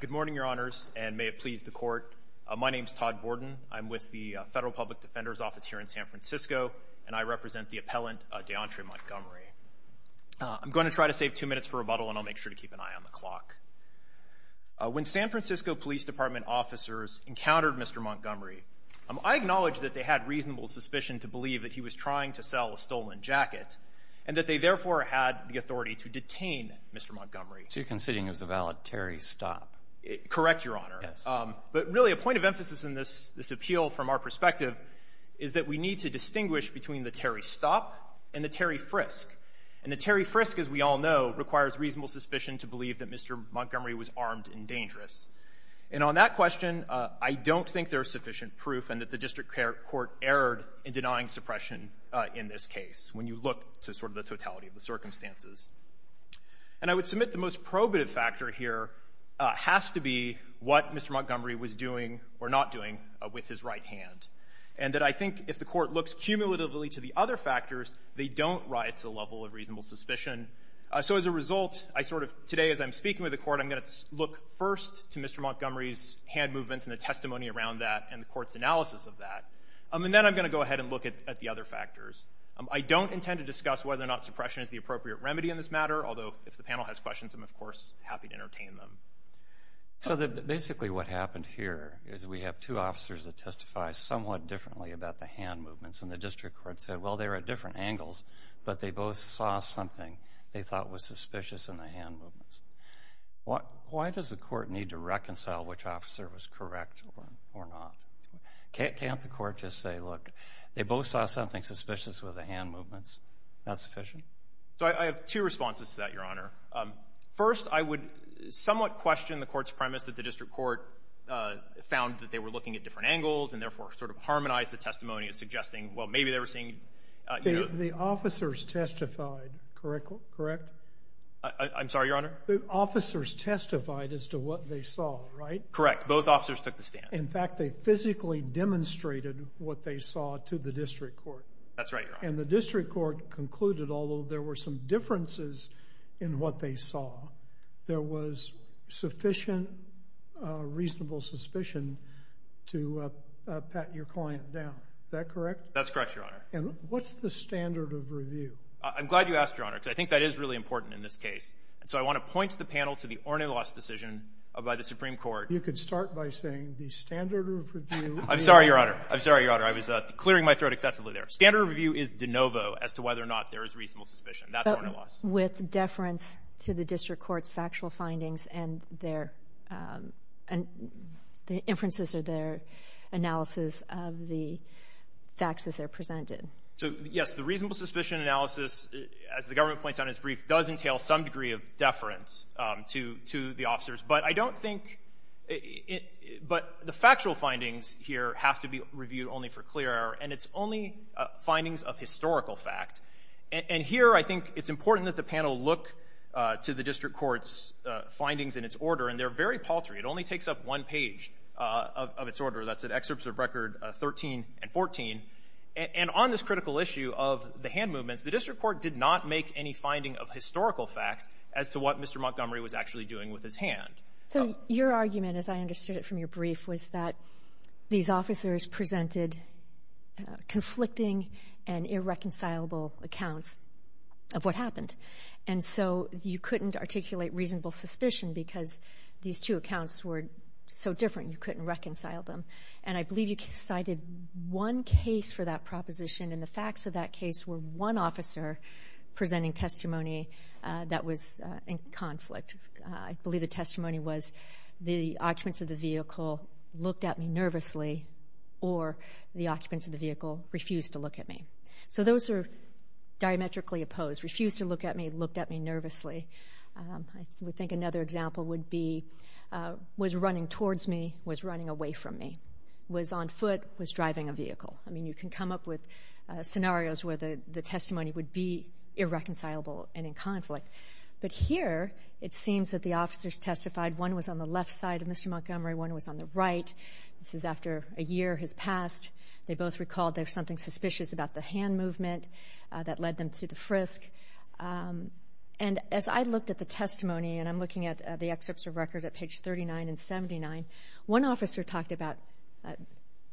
Good morning, Your Honors, and may it please the Court. My name is Todd Borden. I'm with the Federal Public Defender's Office here in San Francisco, and I represent the appellant Deauntre Montgomery. I'm going to try to save two minutes for rebuttal, and I'll make sure to keep an eye on the clock. When San Francisco Police Department officers encountered Mr. Montgomery, I acknowledge that they had reasonable suspicion to believe that he was trying to or had the authority to detain Mr. Montgomery. So you're considering it was a valid Terry Stopp? Correct, Your Honor. Yes. But really, a point of emphasis in this appeal from our perspective is that we need to distinguish between the Terry Stopp and the Terry Frisk. And the Terry Frisk, as we all know, requires reasonable suspicion to believe that Mr. Montgomery was armed and dangerous. And on that question, I don't think there is sufficient proof and that the district court erred in denying suppression in this case, when you look to sort of the totality of the circumstances. And I would submit the most probative factor here has to be what Mr. Montgomery was doing or not doing with his right hand, and that I think if the Court looks cumulatively to the other factors, they don't rise to the level of reasonable suspicion. So as a result, I sort of, today as I'm speaking with the Court, I'm going to look first to Mr. Montgomery's hand movements and the testimony around that and the Court's at the other factors. I don't intend to discuss whether or not suppression is the appropriate remedy in this matter, although if the panel has questions, I'm, of course, happy to entertain them. So basically what happened here is we have two officers that testify somewhat differently about the hand movements, and the district court said, well, they were at different angles, but they both saw something they thought was suspicious in the hand movements. Why does the Court need to reconcile which officer was correct or not? Can't the Court just say, look, they both saw something suspicious with the hand movements? Is that sufficient? So I have two responses to that, Your Honor. First, I would somewhat question the Court's premise that the district court found that they were looking at different angles and therefore sort of harmonized the testimony as suggesting, well, maybe they were seeing you know — The officers testified, correct? I'm sorry, Your Honor? The officers testified as to what they saw, right? Correct. Both officers took the stand. In fact, they physically demonstrated what they saw to the district court. That's right, Your Honor. And the district court concluded, although there were some differences in what they saw, there was sufficient reasonable suspicion to pat your client down. Is that correct? That's correct, Your Honor. And what's the standard of review? I'm glad you asked, Your Honor, because I think that is really important in this case. So I want to point the panel to the Ornellos decision by the Supreme Court. You could start by saying the standard of review — I'm sorry, Your Honor. I'm sorry, Your Honor. I was clearing my throat excessively there. Standard of review is de novo as to whether or not there is reasonable suspicion. That's Ornellos. But with deference to the district court's factual findings and their — and the inferences or their analysis of the facts as they're presented. So, yes, the reasonable suspicion analysis, as the government points out in its brief, does entail some degree of deference to the officers. But I don't think — but the factual findings here have to be reviewed only for clear error, and it's only findings of historical fact. And here I think it's important that the panel look to the district court's findings in its order, and they're very paltry. It only takes up one page of its order. That's at Excerpts of Record 13 and 14. And on this critical issue of the hand movements, the district court did not make any finding of historical fact as to what Mr. Montgomery was actually doing with his hand. So your argument, as I understood it from your brief, was that these officers presented conflicting and irreconcilable accounts of what happened. And so you couldn't articulate reasonable suspicion because these two accounts were so different, you couldn't reconcile them. And I believe you cited one case for that proposition, and the facts of that case were one officer presenting testimony that was in conflict. I believe the testimony was, the occupants of the vehicle looked at me nervously, or the occupants of the vehicle refused to look at me. So those are diametrically opposed. Refused to look at me, looked at me nervously. I would think another example would be, was running towards me, was running away from me. Was on foot, was driving a vehicle. I mean, you can come up with scenarios where the testimony would be irreconcilable and in conflict. But here, it seems that the officers testified, one was on the left side of Mr. Montgomery, one was on the right. This is after a year has passed. They both recalled there was something suspicious about the hand movement that led them to the frisk. And as I looked at the testimony, and I'm looking at the excerpts of record at page 39 and 79, one officer talked about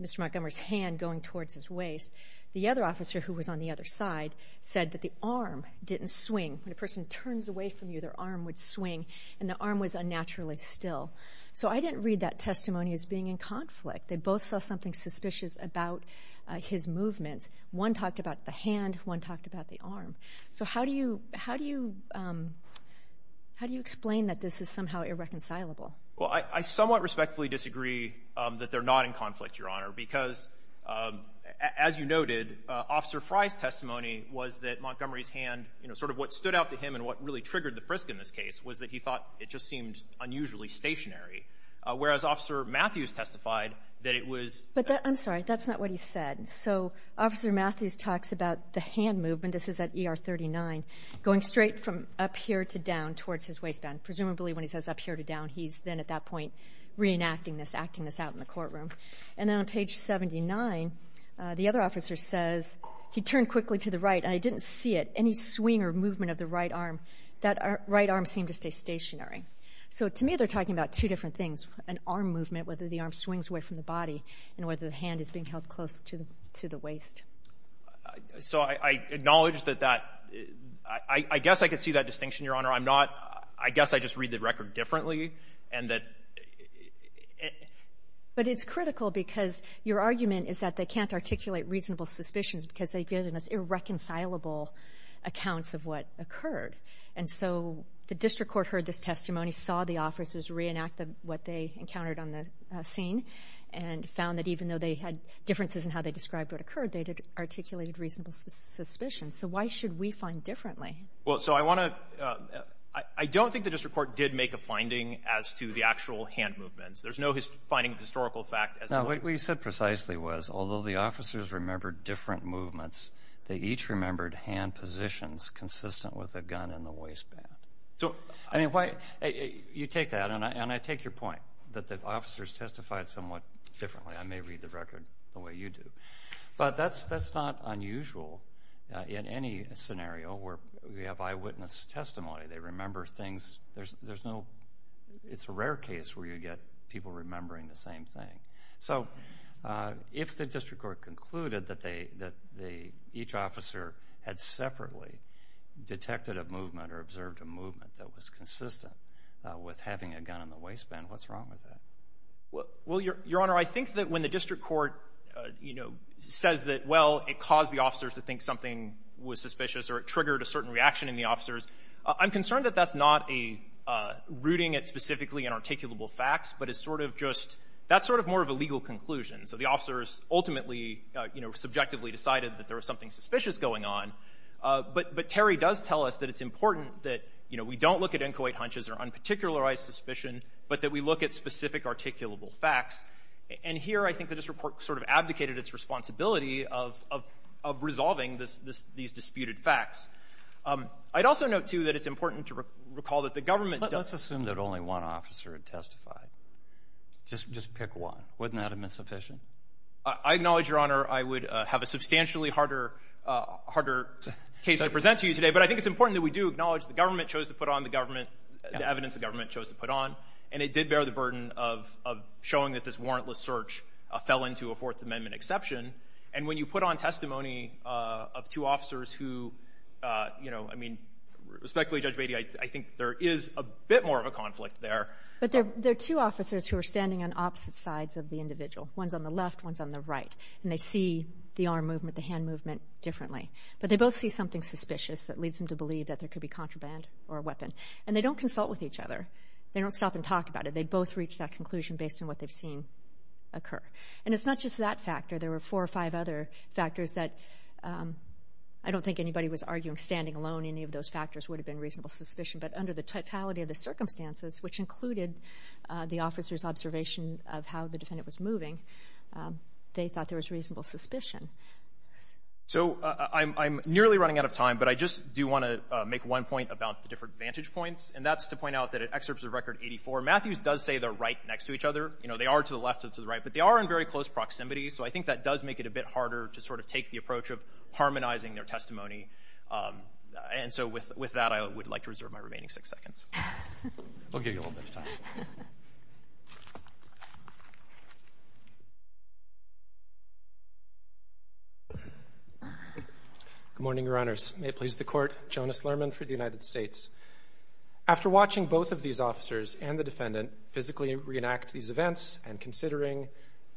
Mr. Montgomery's hand going towards his waist. The other officer, who was on the other side, said that the arm didn't swing. When a person turns away from you, their arm would swing, and the arm was unnaturally still. So I didn't read that testimony as being in conflict. They both saw something suspicious about his movements. One talked about the hand, one talked about the arm. So how do you, how do you, how do you explain that this is somehow irreconcilable? Well, I somewhat respectfully disagree that they're not in conflict, Your Honor, because as you noted, Officer Fry's testimony was that Montgomery's hand, you know, sort of what stood out to him and what really triggered the frisk in this case was that he thought it just seemed unusually stationary. Whereas Officer Matthews testified that it was. But that, I'm sorry, that's not what he said. So Officer Matthews talks about the hand movement, this is at ER 39, going straight from up here to down towards his waistband. Presumably when he says up here to down, he's then at that point reenacting this, acting this out in the courtroom. And then on page 79, the other officer says, he turned quickly to the right, and I didn't see it, any swing or movement of the right arm. That right arm seemed to stay stationary. So to me, they're talking about two different things, an arm movement, whether the arm swings away from the body, and whether the hand is being held close to the waist. So I acknowledge that that, I guess I could see that distinction, Your Honor. I'm not, I guess I just read the record differently, and that... But it's critical because your argument is that they can't articulate reasonable suspicions because they give us irreconcilable accounts of what occurred. And so the district court heard this testimony, saw the officers reenact what they encountered on the scene, and found that even though they had differences in how they described what occurred, they articulated reasonable suspicions. So why should we find differently? Well, so I want to, I don't think the district court did make a finding as to the actual hand movements. There's no finding of historical fact as to... No, what you said precisely was, although the officers remembered different movements, they each remembered hand positions consistent with a gun in the waistband. So, I mean, why, you take that, and I take your point that the officers testified somewhat differently. I may read the record the way you do. But that's not unusual in any scenario where we have eyewitness testimony. They remember things, there's no, it's a rare case where you get people remembering the same thing. So, if the district court concluded that they, each officer had separately detected a movement or observed a movement that was consistent with having a gun in the waistband, what's wrong with that? Well, Your Honor, I think that when the district court, you know, says that, well, it caused the officers to think something was suspicious or it triggered a certain reaction in the officers, I'm concerned that that's not a, rooting it specifically in articulable facts, but it's sort of just, that's sort of more of a legal conclusion. So the officers ultimately, you know, subjectively decided that there was something suspicious going on. But Terry does tell us that it's important that, you know, we don't look at inchoate hunches or unparticularized suspicion, but that we look at specific articulable facts. And here, I think the district court sort of abdicated its responsibility of resolving these disputed facts. I'd also note, too, that it's important to recall that the government does. Let's assume that only one officer had testified. Just pick one. Wouldn't that have been sufficient? I acknowledge, Your Honor, I would have a substantially harder case to present to you today, but I think it's important that we do acknowledge the government chose to put on the government, the evidence the government chose to put on, and it did bear the burden of showing that this warrantless search fell into a Fourth Amendment exception. And when you put on testimony of two officers who, you know, I mean, respectfully, Judge Beatty, I think there is a bit more of a conflict there. But there are two officers who are standing on opposite sides of the individual. One's on the left, one's on the right, and they see the arm movement, the hand movement differently. But they both see something suspicious that leads them to believe that there could be contraband or a weapon. And they don't consult with each other. They don't stop and talk about it. They both reach that conclusion based on what they've seen occur. And it's not just that factor. There were four or five other factors that I don't think anybody was arguing standing alone. Any of those factors would have been reasonable suspicion. But under the totality of the circumstances, which included the officer's observation of how the defendant was moving, they thought there was reasonable suspicion. So I'm nearly running out of time, but I just do want to make one point about the different vantage points, and that's to point out that at Excerpts of Record 84, Matthews does say they're right next to each other. You know, they are to the left and to the right, but they are in very close proximity. So I think that does make it a bit harder to sort of take the approach of harmonizing their testimony. And so with that, I would like to reserve my remaining six seconds. I'll give you a little bit of time. Good morning, Your Honors. May it please the Court. Jonas Lerman for the United States. After watching both of these officers and the defendant physically reenact these events and considering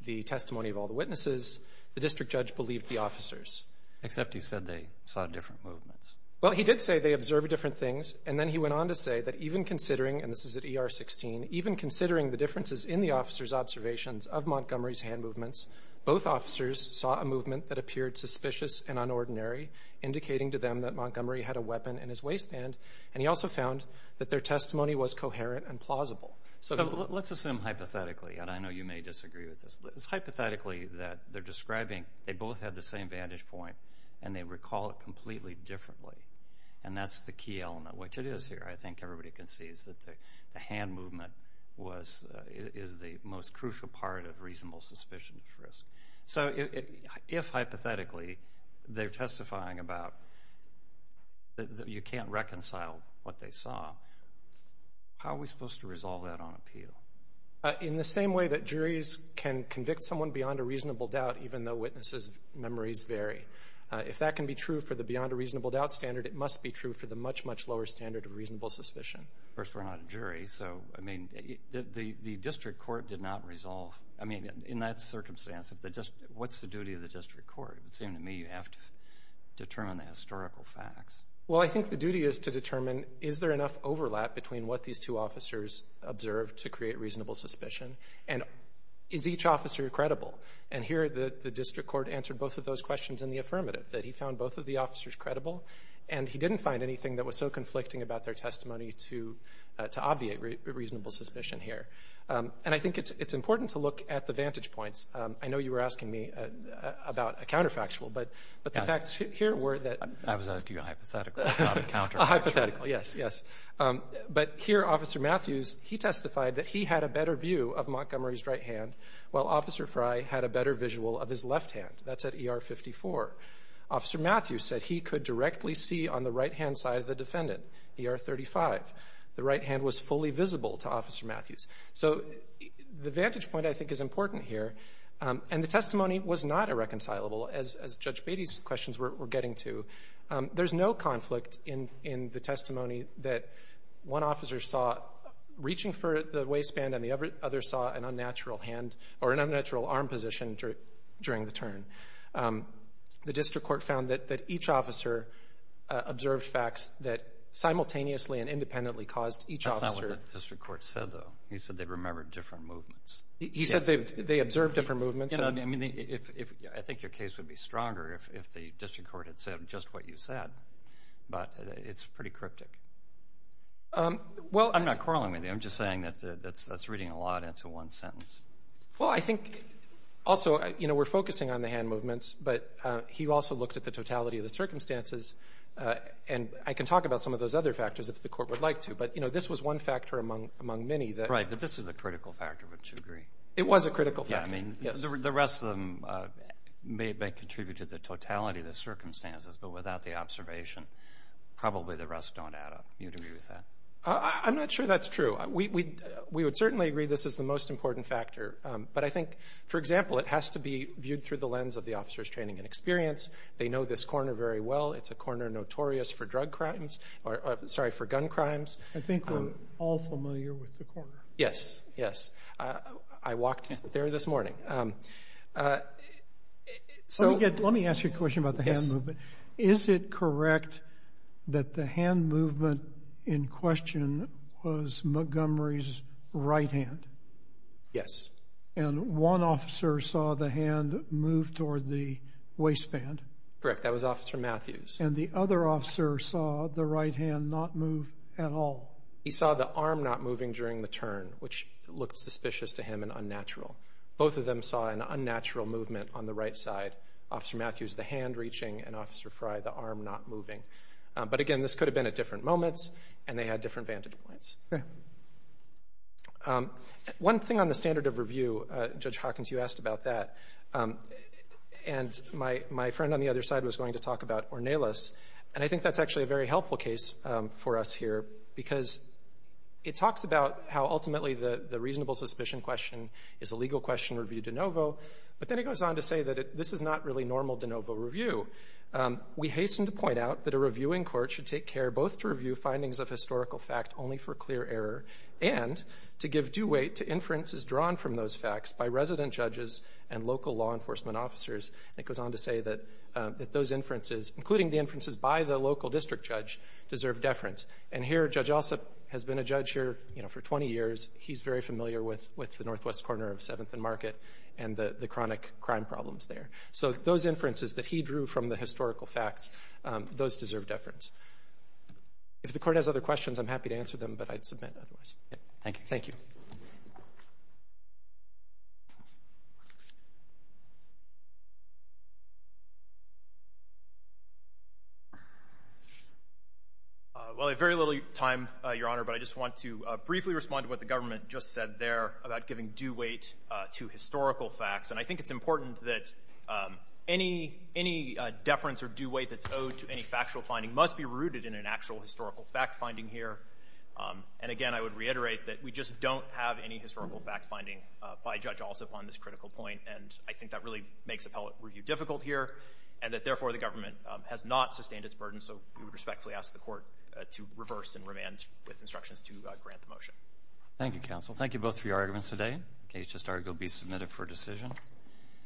the testimony of all the witnesses, the district judge believed the officers. Except he said they saw different movements. Well, he did say they observed different things. And then he went on to say that even considering, and this is at ER 16, even considering the differences in the officers' observations of Montgomery's hand movements, both officers saw a movement that appeared suspicious and unordinary, indicating to them that Montgomery had a weapon in his waistband. And he also found that their testimony was coherent and plausible. So let's assume hypothetically, and I know you may disagree with this, it's hypothetically that they're describing they both had the same vantage point and they recall it completely differently. And that's the key element, which it is here. I think everybody can see is that the hand movement was, is the most crucial part of reasonable suspicion of risk. So if hypothetically they're testifying about that you can't reconcile what they saw, how are we supposed to resolve that on appeal? In the same way that juries can convict someone beyond a reasonable doubt even though witnesses' memories vary. If that can be true for the beyond a reasonable doubt standard, it must be true for the much, much lower standard of reasonable suspicion. Of course, we're not a jury, so I mean, the district court did not resolve, I mean, in that circumstance, what's the duty of the district court? It would seem to me you have to determine the historical facts. Well, I think the duty is to determine is there enough overlap between what these two officers observed to create reasonable suspicion? And is each officer credible? And here the district court answered both of those questions in the affirmative, that he found both of the officers credible. And he didn't find anything that was so conflicting about their testimony to obviate reasonable suspicion here. And I think it's important to look at the vantage points. I know you were asking me about a counterfactual, but the facts here were that... I was asking you a hypothetical, not a counterfactual. A hypothetical, yes, yes. But here Officer Matthews, he testified that he had a better view of Montgomery's right hand, while Officer Frye had a better visual of his left hand. That's at ER 54. Officer Matthews said he could directly see on the right-hand side of the defendant, ER 35. The right hand was fully visible to Officer Matthews. So the vantage point, I think, is important here. And the testimony was not irreconcilable, as Judge Beatty's questions were getting to. There's no conflict in the testimony that one officer saw reaching for the waistband and the other saw an unnatural arm position during the turn. The district court found that each officer observed facts that simultaneously and independently caused each officer... That's not what the district court said, though. He said they remembered different movements. He said they observed different movements. I think your case would be stronger if the district court had said just what you said. But it's pretty cryptic. Well I'm not quarreling with you. I'm just saying that that's reading a lot into one sentence. Well I think also, you know, we're focusing on the hand movements, but he also looked at the totality of the circumstances. And I can talk about some of those other factors if the court would like to, but, you know, this was one factor among many that... Right, but this is a critical factor, wouldn't you agree? It was a critical factor. Yeah, I mean, the rest of them may have contributed to the totality of the circumstances, but without the observation, probably the rest don't add up. You agree with that? I'm not sure that's true. We would certainly agree this is the most important factor, but I think, for example, it has to be viewed through the lens of the officer's training and experience. They know this corner very well. It's a corner notorious for drug crimes, sorry, for gun crimes. I think we're all familiar with the corner. Yes. Yes. I walked there this morning. Let me ask you a question about the hand movement. Is it correct that the hand movement in question was Montgomery's right hand? Yes. And one officer saw the hand move toward the waistband? Correct. That was Officer Matthews. And the other officer saw the right hand not move at all? He saw the arm not moving during the turn, which looked suspicious to him and unnatural. Both of them saw an unnatural movement on the right side. Officer Matthews, the hand reaching, and Officer Frye, the arm not moving. But again, this could have been at different moments, and they had different vantage points. One thing on the standard of review, Judge Hawkins, you asked about that, and my friend on the other side was going to talk about Ornelas, and I think that's actually a very helpful case for us here because it talks about how ultimately the reasonable suspicion question is a legal question reviewed de novo, but then it goes on to say that this is not really normal de novo review. We hasten to point out that a reviewing court should take care both to review findings of historical fact only for clear error and to give due weight to inferences drawn from those facts by resident judges and local law enforcement officers, and it goes on to say that those inferences, including the inferences by the local district judge, deserve deference. And here, Judge Alsop has been a judge here for 20 years. He's very familiar with the northwest corner of 7th and Market and the chronic crime problems there. So those inferences that he drew from the historical facts, those deserve deference. If the Court has other questions, I'm happy to answer them, but I'd submit otherwise. Thank you. Thank you. Well, I have very little time, Your Honor, but I just want to briefly respond to what the government just said there about giving due weight to historical facts. And I think it's important that any deference or due weight that's owed to any factual finding must be rooted in an actual historical fact finding here. And again, I would reiterate that we just don't have any historical fact finding by Judge Alsop on this critical point, and I think that really makes appellate review difficult here and that, therefore, the government has not sustained its burden. So we would respectfully ask the Court to reverse and remand with instructions to grant the motion. Thank you, Counsel. Thank you both for your arguments today. In case you'd just like to go be submitted for a decision.